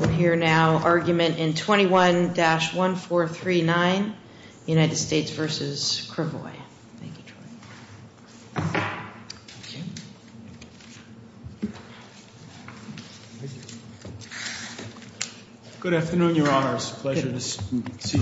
Argument 21-1439 United States v. Krivoi Mr. Langone, you have reserved two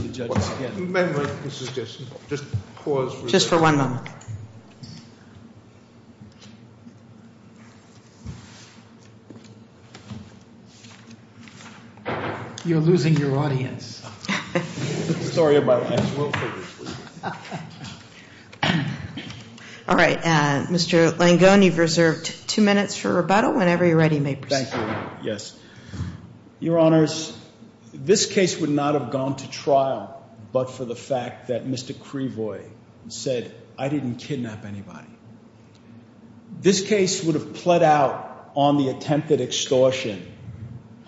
minutes for rebuttal. Your Honors, this case would not have gone to trial but for the fact that Mr. Krivoi said, I didn't kidnap anybody. This case would have pled out on the attempted extortion.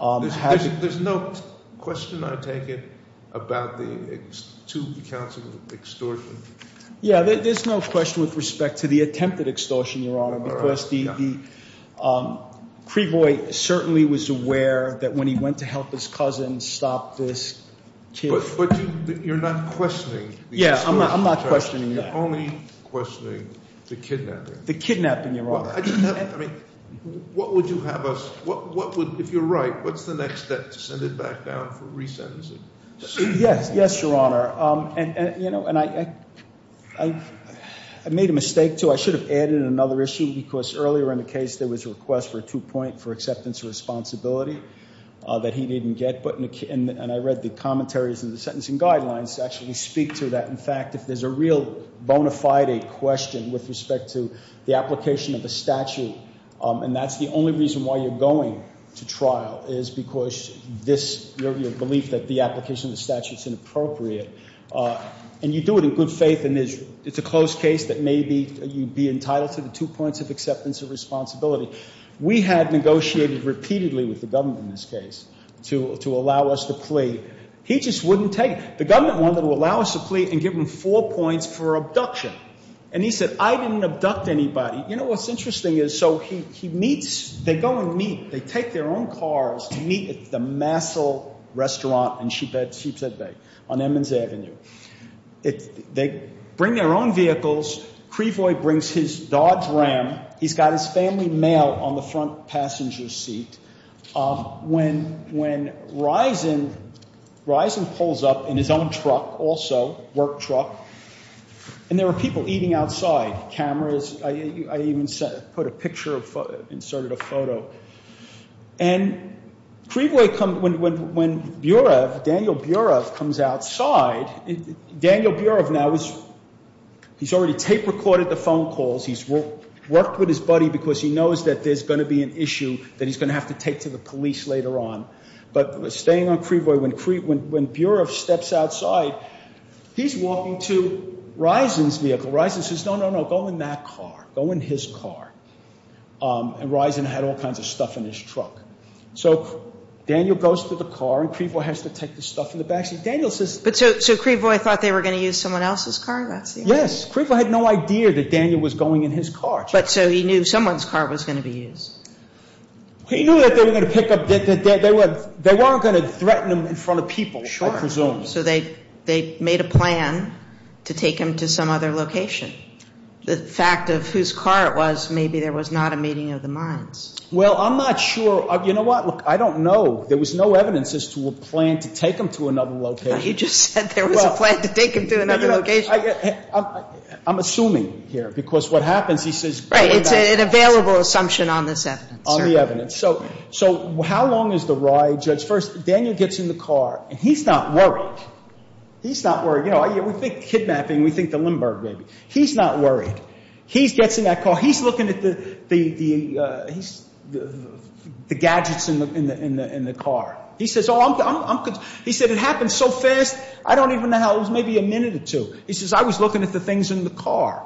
There's no question I take it about the two counts of extortion? Yeah, there's no question with respect to the attempted extortion, Your Honor, because Krivoi certainly was aware that when he went to help his cousin stop this kidnap. But you're not questioning the extortion charge. Yeah, I'm not questioning that. You're only questioning the kidnapping. The kidnapping, Your Honor. I mean, what would you have us, what would, if you're right, what's the next step to send it back down for resentencing? Yes, yes, Your Honor. And, you know, and I made a mistake too. I should have added another issue because earlier in the case there was a request for a two point for acceptance of responsibility that he didn't get. And I read the commentaries and the sentencing guidelines actually speak to that. In fact, if there's a real bona fide question with respect to the application of a statute and that's the only reason why you're going to trial is because this, your belief that the application of the statute is inappropriate. And you do it in good faith and it's a close case that maybe you'd be entitled to the two points of acceptance of responsibility. We had negotiated repeatedly with the government in this case to allow us the plea. He just wouldn't take it. The government wanted to allow us a plea and give him four points for abduction. And he said, I didn't abduct anybody. You know, what's interesting is, so he meets, they go and meet. They take their own cars to meet at the Massell restaurant in Sheepshead Bay on Emmons Avenue. They bring their own vehicles. Creevoy brings his Dodge Ram. He's got his family mail on the front passenger seat. When Risen pulls up in his own truck also, work truck, and there were people eating outside, cameras. I even put a picture, inserted a photo. And Creevoy comes, when Burev, Daniel Burev comes outside, Daniel Burev now is, he's already tape recorded the phone calls. He's worked with his buddy because he knows that there's going to be an issue that he's going to have to take to the police later on. But staying on Creevoy, when Burev steps outside, he's walking to Risen's vehicle. Risen says, no, no, no, go in that car. Go in his car. And Risen had all kinds of stuff in his truck. So Daniel goes to the car and Creevoy has to take the stuff in the back seat. Daniel says- So Creevoy thought they were going to use someone else's car? Yes. Creevoy had no idea that Daniel was going in his car. But so he knew someone's car was going to be used. He knew that they were going to pick up, that they weren't going to threaten him in front of people, I presume. So they made a plan to take him to some other location. The fact of whose car it was, maybe there was not a meeting of the minds. Well, I'm not sure. You know what? Look, I don't know. There was no evidence as to a plan to take him to another location. You just said there was a plan to take him to another location. I'm assuming here because what happens, he says- Right. It's an available assumption on this evidence. On the evidence. So how long is the ride, Judge? First, Daniel gets in the car and he's not worried. He's not worried. You know, we think kidnapping, we think the Limburg baby. He's not worried. He gets in that car. He's looking at the gadgets in the car. He says, oh, I'm- He said, it happened so fast, I don't even know how. It was maybe a minute or two. He says, I was looking at the things in the car.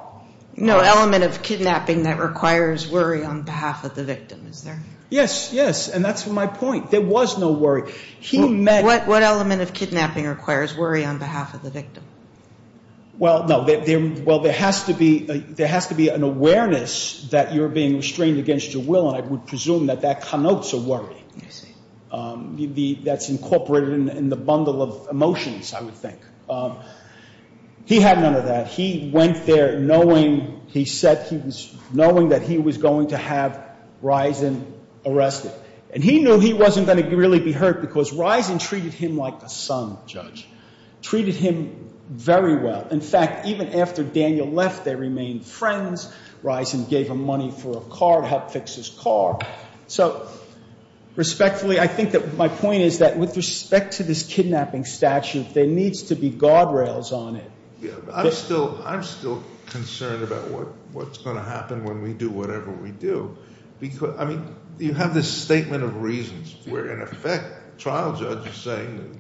No element of kidnapping that requires worry on behalf of the victim, is there? Yes, yes, and that's my point. There was no worry. What element of kidnapping requires worry on behalf of the victim? Well, no. Well, there has to be an awareness that you're being restrained against your will, and I would presume that that connotes a worry. I see. That's incorporated in the bundle of emotions, I would think. He had none of that. He went there knowing, he said he was knowing that he was going to have Risen arrested, and he knew he wasn't going to really be hurt because Risen treated him like a son, Judge, treated him very well. In fact, even after Daniel left, they remained friends. Risen gave him money for a car to help fix his car. So, respectfully, I think that my point is that with respect to this kidnapping statute, there needs to be guardrails on it. I'm still concerned about what's going to happen when we do whatever we do. I mean, you have this statement of reasons where, in effect, the trial judge is saying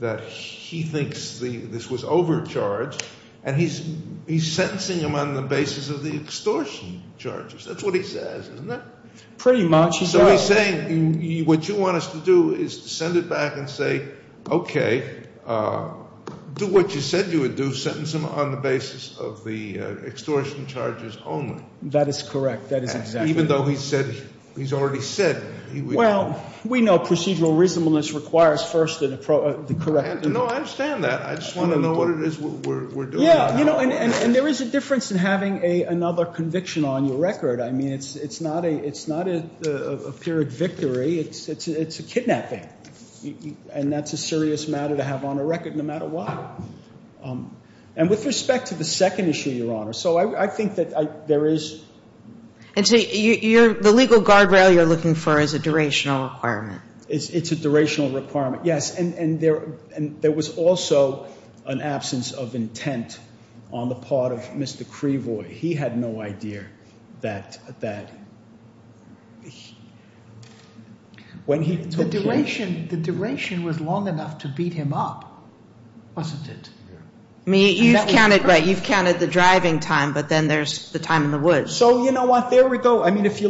that he thinks this was overcharge, and he's sentencing him on the basis of the extortion charges. That's what he says, isn't it? Pretty much. So he's saying what you want us to do is to send it back and say, okay, do what you said you would do, sentence him on the basis of the extortion charges only. That is correct. That is exactly right. Even though he said, he's already said. Well, we know procedural reasonableness requires first the corrective. No, I understand that. I just want to know what it is we're doing. Yeah, you know, and there is a difference in having another conviction on your record. I mean, it's not a period victory. It's a kidnapping. And that's a serious matter to have on a record no matter what. And with respect to the second issue, Your Honor, so I think that there is. And so the legal guardrail you're looking for is a durational requirement. It's a durational requirement, yes. And there was also an absence of intent on the part of Mr. Crevoy. He had no idea that when he took the case. The duration was long enough to beat him up, wasn't it? You've counted the driving time, but then there's the time in the woods. So you know what? There we go. I mean, if we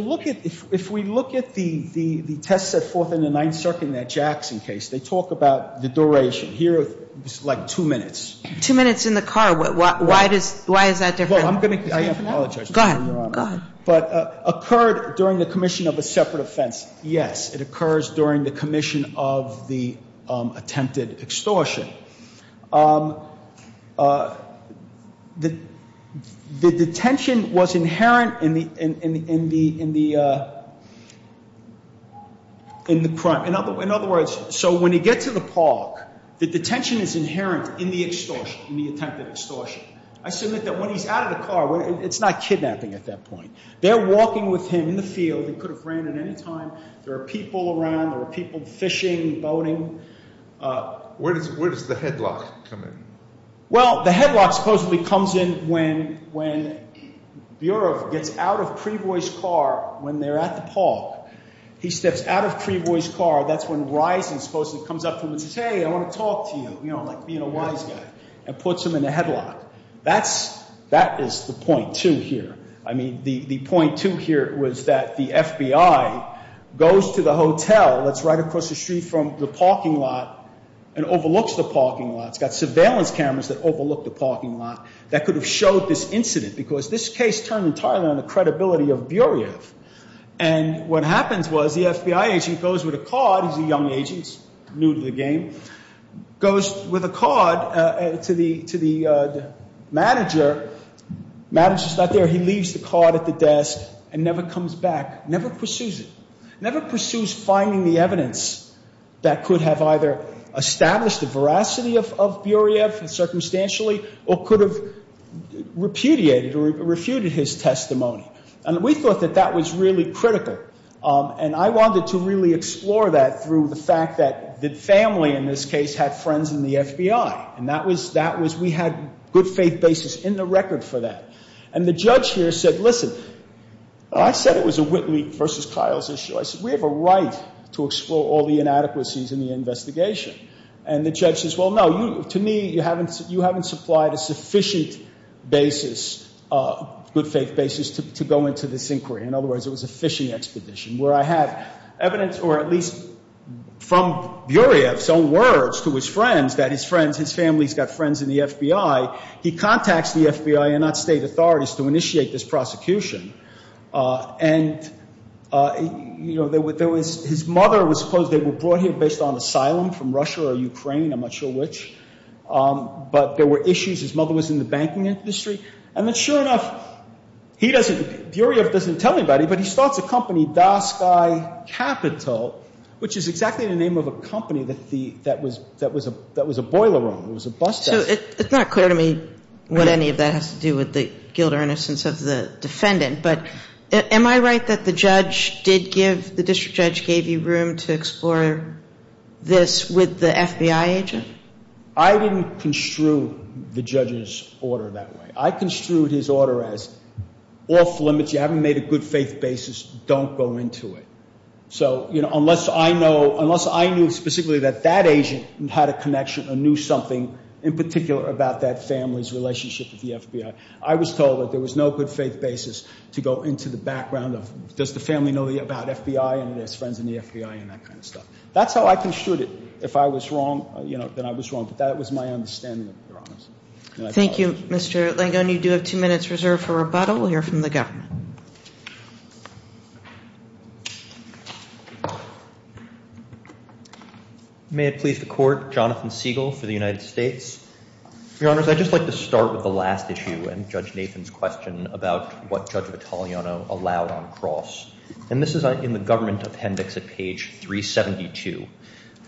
look at the test set forth in the Ninth Circuit in that Jackson case, they talk about the duration. Here it's like two minutes. Two minutes in the car. Why is that different? I apologize, Your Honor. Go ahead. But occurred during the commission of a separate offense. Yes, it occurs during the commission of the attempted extortion. The detention was inherent in the crime. In other words, so when you get to the park, the detention is inherent in the extortion, in the attempted extortion. I submit that when he's out of the car, it's not kidnapping at that point. They're walking with him in the field. He could have ran at any time. There are people around. There are people fishing, boating. Where does the headlock come in? Well, the headlock supposedly comes in when Bureau gets out of Crevoy's car when they're at the park. He steps out of Crevoy's car. That's when Risen supposedly comes up to him and says, hey, I want to talk to you, you know, and puts him in the headlock. That is the point, too, here. I mean, the point, too, here was that the FBI goes to the hotel that's right across the street from the parking lot and overlooks the parking lot. It's got surveillance cameras that overlook the parking lot that could have showed this incident because this case turned entirely on the credibility of Bureev. And what happens was the FBI agent goes with a card. He's a young agent. He's new to the game. Goes with a card to the manager. Manager's not there. He leaves the card at the desk and never comes back, never pursues it, never pursues finding the evidence that could have either established the veracity of Bureev circumstantially or could have repudiated or refuted his testimony. And we thought that that was really critical. And I wanted to really explore that through the fact that the family in this case had friends in the FBI. And that was we had good faith basis in the record for that. And the judge here said, listen, I said it was a Whitley v. Kyles issue. I said, we have a right to explore all the inadequacies in the investigation. And the judge says, well, no, to me, you haven't supplied a sufficient basis, good faith basis, to go into this inquiry. In other words, it was a fishing expedition where I had evidence or at least from Bureev's own words to his friends that his friends, his family's got friends in the FBI. He contacts the FBI and not state authorities to initiate this prosecution. And, you know, there was his mother was supposed they were brought here based on asylum from Russia or Ukraine. I'm not sure which. But there were issues. His mother was in the banking industry. And then sure enough, he doesn't Bureev doesn't tell anybody, but he starts a company, Dasky Capital, which is exactly the name of a company that the that was that was a that was a boiler room. It was a bus desk. So it's not clear to me what any of that has to do with the guilt or innocence of the defendant. But am I right that the judge did give the district judge gave you room to explore this with the FBI agent? I didn't construe the judge's order that way. I construed his order as off limits. You haven't made a good faith basis. Don't go into it. So, you know, unless I know unless I knew specifically that that agent had a connection, I knew something in particular about that family's relationship with the FBI. I was told that there was no good faith basis to go into the background of. Does the family know about FBI and his friends in the FBI and that kind of stuff? That's how I construed it. If I was wrong, you know, then I was wrong. But that was my understanding. Thank you, Mr. Langone. You do have two minutes reserved for rebuttal. We'll hear from the government. May it please the court. Jonathan Siegel for the United States. Your Honor, I'd just like to start with the last issue and Judge Nathan's question about what Judge Vitaliano allowed on cross. And this is in the government appendix at page 372.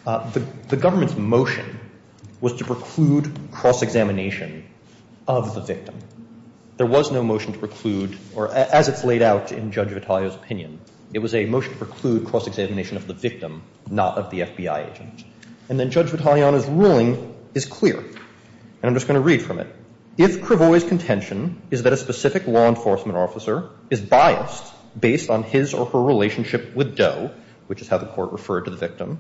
The government's motion was to preclude cross-examination of the victim. There was no motion to preclude, or as it's laid out in Judge Vitaliano's opinion, it was a motion to preclude cross-examination of the victim, not of the FBI agent. And then Judge Vitaliano's ruling is clear. And I'm just going to read from it. If Cravoy's contention is that a specific law enforcement officer is biased based on his or her relationship with Doe, which is how the court referred to the victim,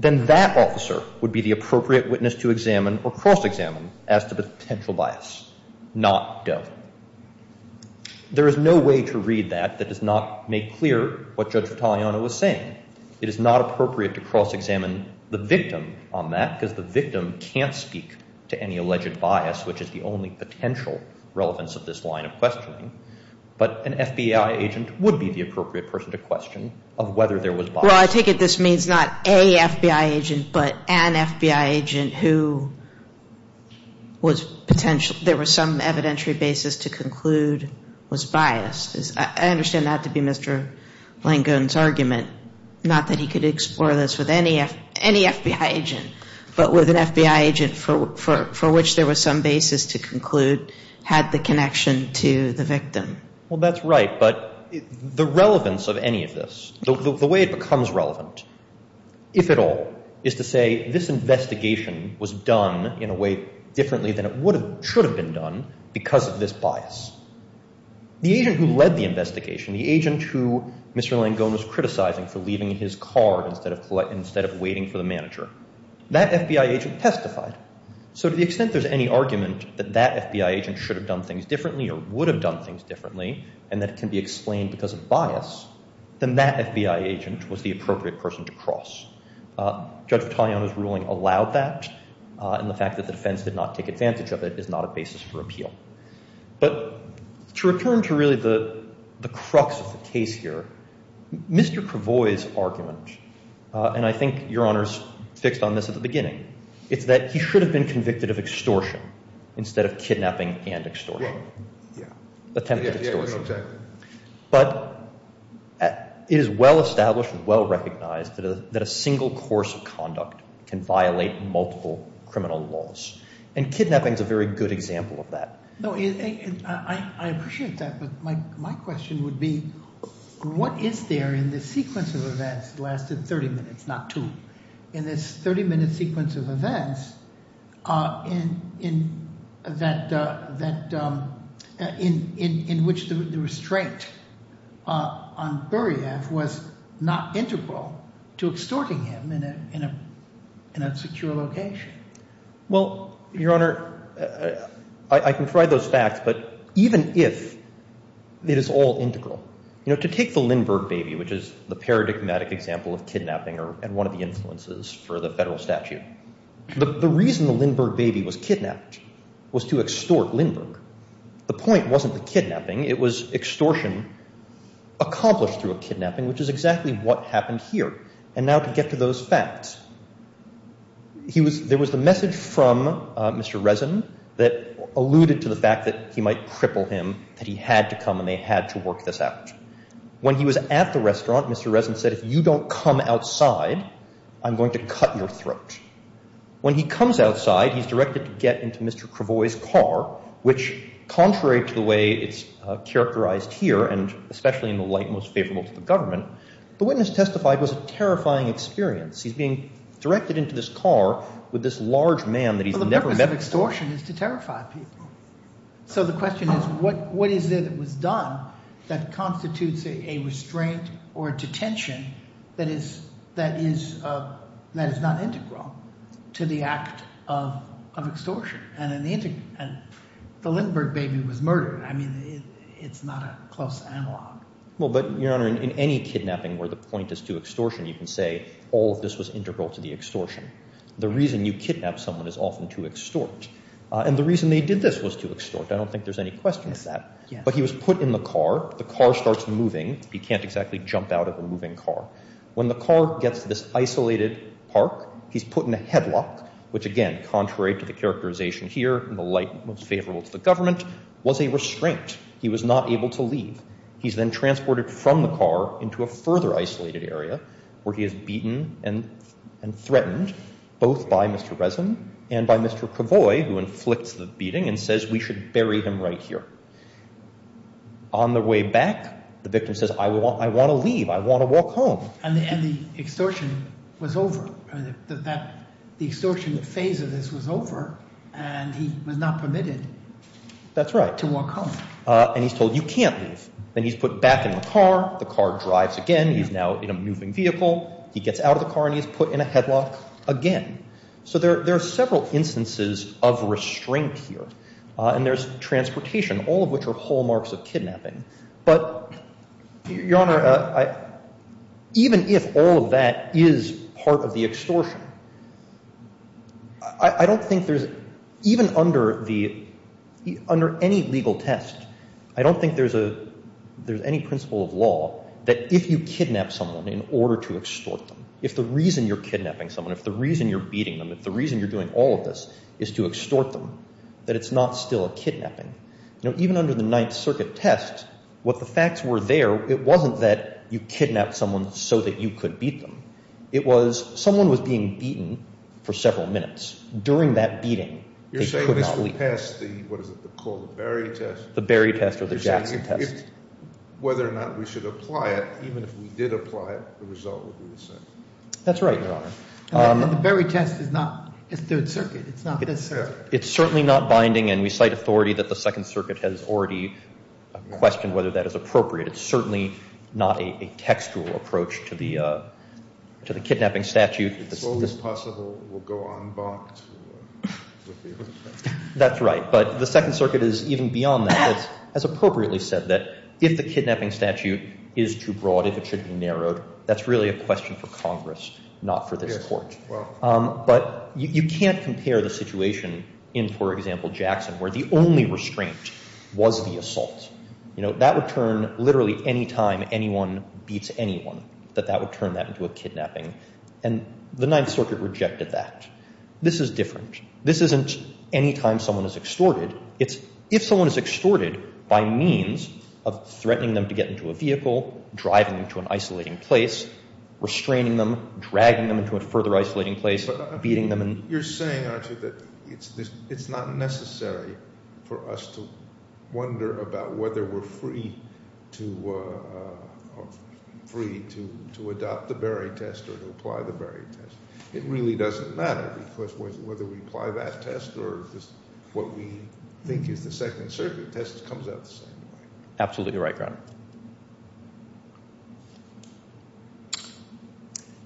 then that officer would be the appropriate witness to examine or cross-examine as to potential bias, not Doe. There is no way to read that that does not make clear what Judge Vitaliano was saying. It is not appropriate to cross-examine the victim on that because the victim can't speak to any alleged bias, which is the only potential relevance of this line of questioning. But an FBI agent would be the appropriate person to question of whether there was bias. Well, I take it this means not a FBI agent, but an FBI agent who was potentially, there was some evidentiary basis to conclude was biased. I understand that to be Mr. Langone's argument, not that he could explore this with any FBI agent, but with an FBI agent for which there was some basis to conclude had the connection to the victim. Well, that's right. But the relevance of any of this, the way it becomes relevant, if at all, is to say this investigation was done in a way differently than it should have been done because of this bias. The agent who led the investigation, the agent who Mr. Langone was criticizing for leaving his car instead of waiting for the manager, that FBI agent testified. So to the extent there's any argument that that FBI agent should have done things differently or would have done things differently and that can be explained because of bias, then that FBI agent was the appropriate person to cross. Judge Vitaliano's ruling allowed that, and the fact that the defense did not take advantage of it is not a basis for appeal. But to return to really the crux of the case here, Mr. Cravoy's argument, and I think Your Honor's fixed on this at the beginning, is that he should have been convicted of extortion instead of kidnapping and extortion. Yeah. Attempted extortion. Yeah, yeah, exactly. But it is well established and well recognized that a single course of conduct can violate multiple criminal laws, and kidnapping is a very good example of that. I appreciate that, but my question would be, what is there in this sequence of events that lasted 30 minutes, not two, in this 30-minute sequence of events in which the restraint on Buryev was not integral to extorting him in a secure location? Well, Your Honor, I can provide those facts, but even if it is all integral, you know, to take the Lindbergh baby, which is the paradigmatic example of kidnapping and one of the influences for the federal statute, the reason the Lindbergh baby was kidnapped was to extort Lindbergh. The point wasn't the kidnapping. It was extortion accomplished through a kidnapping, which is exactly what happened here. And now to get to those facts. There was the message from Mr. Resin that alluded to the fact that he might cripple him, that he had to come and they had to work this out. When he was at the restaurant, Mr. Resin said, if you don't come outside, I'm going to cut your throat. When he comes outside, he's directed to get into Mr. Cravoy's car, which, contrary to the way it's characterized here, and especially in the light most favorable to the government, the witness testified was a terrifying experience. He's being directed into this car with this large man that he's never met before. Well, the purpose of extortion is to terrify people. So the question is what is it that was done that constitutes a restraint or a detention that is not integral to the act of extortion? And the Lindbergh baby was murdered. I mean, it's not a close analog. Well, but, Your Honor, in any kidnapping where the point is to extortion, you can say all of this was integral to the extortion. The reason you kidnap someone is often to extort. And the reason they did this was to extort. I don't think there's any question of that. But he was put in the car. The car starts moving. He can't exactly jump out of the moving car. When the car gets to this isolated park, he's put in a headlock, which, again, contrary to the characterization here, in the light most favorable to the government, was a restraint. He was not able to leave. He's then transported from the car into a further isolated area where he is beaten and threatened, both by Mr. Resin and by Mr. Cravoy, who inflicts the beating and says, We should bury him right here. On the way back, the victim says, I want to leave. I want to walk home. And the extortion was over. The extortion phase of this was over, and he was not permitted to walk home. And he's told, You can't leave. Then he's put back in the car. The car drives again. He's now in a moving vehicle. He gets out of the car, and he's put in a headlock again. So there are several instances of restraint here. And there's transportation, all of which are hallmarks of kidnapping. But, Your Honor, even if all of that is part of the extortion, I don't think there's, even under any legal test, I don't think there's any principle of law that if you kidnap someone in order to extort them, if the reason you're kidnapping someone, if the reason you're beating them, if the reason you're doing all of this is to extort them, that it's not still a kidnapping. Even under the Ninth Circuit test, what the facts were there, it wasn't that you kidnapped someone so that you could beat them. It was someone was being beaten for several minutes. During that beating, they could not leave. You're saying this would pass the, what is it called, the Berry test? The Berry test or the Jackson test. You're saying whether or not we should apply it, even if we did apply it, the result would be the same. That's right, Your Honor. The Berry test is not the Third Circuit. It's not the Third Circuit. It's certainly not binding. And we cite authority that the Second Circuit has already questioned whether that is appropriate. It's certainly not a textual approach to the kidnapping statute. If it's always possible, we'll go en banc to reveal it. That's right. But the Second Circuit is even beyond that. It has appropriately said that if the kidnapping statute is too broad, if it should be narrowed, that's really a question for Congress, not for this Court. But you can't compare the situation in, for example, Jackson, where the only restraint was the assault. You know, that would turn literally any time anyone beats anyone, that that would turn that into a kidnapping. And the Ninth Circuit rejected that. This is different. This isn't any time someone is extorted. It's if someone is extorted by means of threatening them to get into a vehicle, driving them to an isolating place, restraining them, dragging them into a further isolating place, beating them. You're saying, aren't you, that it's not necessary for us to wonder about whether we're free to adopt the Berry test or to apply the Berry test. It really doesn't matter because whether we apply that test or what we think is the Second Circuit test comes out the same way.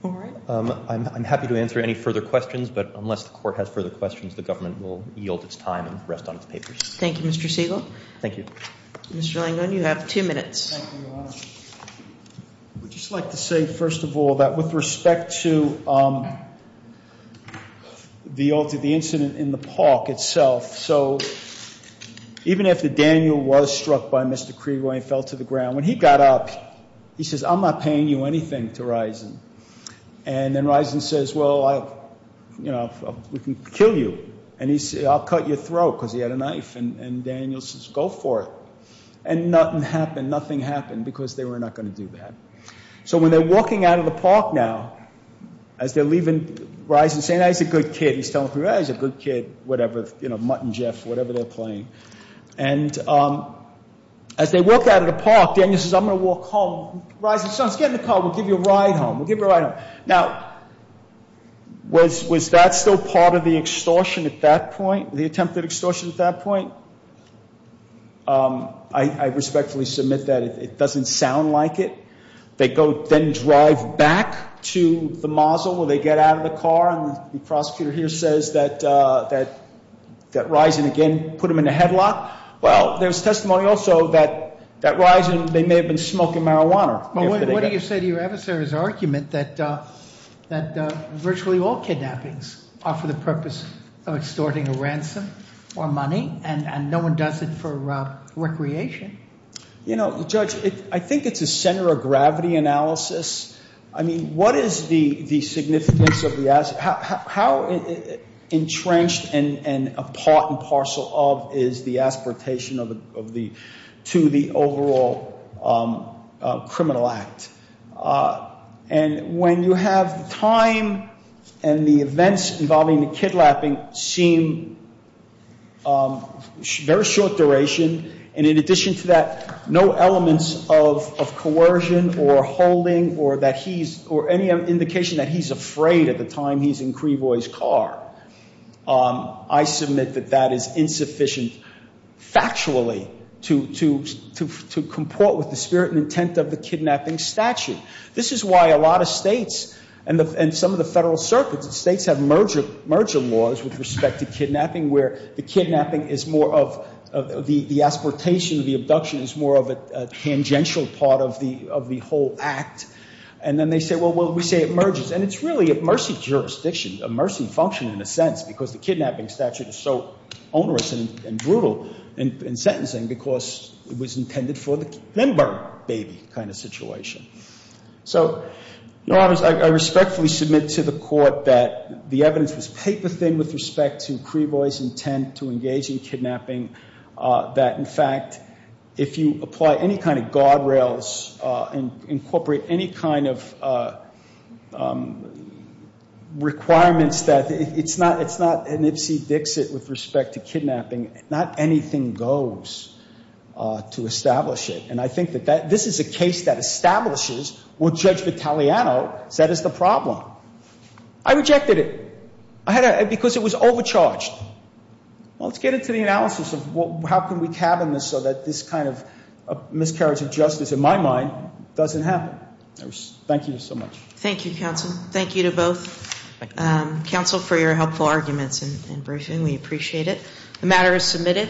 All right. I'm happy to answer any further questions, but unless the Court has further questions, the government will yield its time and rest on its papers. Thank you, Mr. Siegel. Thank you. Mr. Langone, you have two minutes. Thank you, Your Honor. I would just like to say, first of all, that with respect to the incident in the park itself, so even after Daniel was struck by Mr. Krieger when he fell to the ground, when he got up, he says, I'm not paying you anything, to Risen. And then Risen says, well, you know, we can kill you. And he said, I'll cut your throat because he had a knife. And Daniel says, go for it. And nothing happened. Nothing happened because they were not going to do that. So when they're walking out of the park now, as they're leaving, Risen is saying, he's a good kid. He's telling them, he's a good kid, whatever, you know, Mutt and Jeff, whatever they're playing. And as they walk out of the park, Daniel says, I'm going to walk home. Risen says, get in the car. We'll give you a ride home. We'll give you a ride home. Now, was that still part of the extortion at that point, the attempted extortion at that point? I respectfully submit that it doesn't sound like it. They go then drive back to the mausoleum where they get out of the car, and the prosecutor here says that Risen again put them in a headlock. Well, there's testimony also that Risen, they may have been smoking marijuana. What do you say to your adversary's argument that virtually all kidnappings are for the purpose of extorting a ransom or money, and no one does it for recreation? You know, Judge, I think it's a center of gravity analysis. I mean, what is the significance of the aspect? How entrenched and a part and parcel of is the aspiratation to the overall criminal act? And when you have time and the events involving the kidnapping seem very short duration, and in addition to that, no elements of coercion or holding or any indication that he's afraid at the time he's in Creevoy's car, I submit that that is insufficient factually to comport with the spirit and intent of the kidnapping statute. This is why a lot of states and some of the federal circuits, states have merger laws with respect to kidnapping where the kidnapping is more of the aspiratation of the abduction is more of a tangential part of the whole act. And then they say, well, we say it merges. And it's really a mercy jurisdiction, a mercy function in a sense, because the kidnapping statute is so onerous and brutal in sentencing because it was intended for the Kimber baby kind of situation. So I respectfully submit to the court that the evidence was paper thin with respect to Creevoy's intent to engage in kidnapping, that, in fact, if you apply any kind of guardrails and incorporate any kind of requirements, that it's not an Ipsy Dixit with respect to kidnapping. Not anything goes to establish it. And I think that this is a case that establishes what Judge Vitaliano said is the problem. I rejected it because it was overcharged. Well, let's get into the analysis of how can we cabin this so that this kind of miscarriage of justice, in my mind, doesn't happen. Thank you so much. Thank you, counsel. Thank you to both counsel for your helpful arguments and briefing. We appreciate it. The matter is submitted.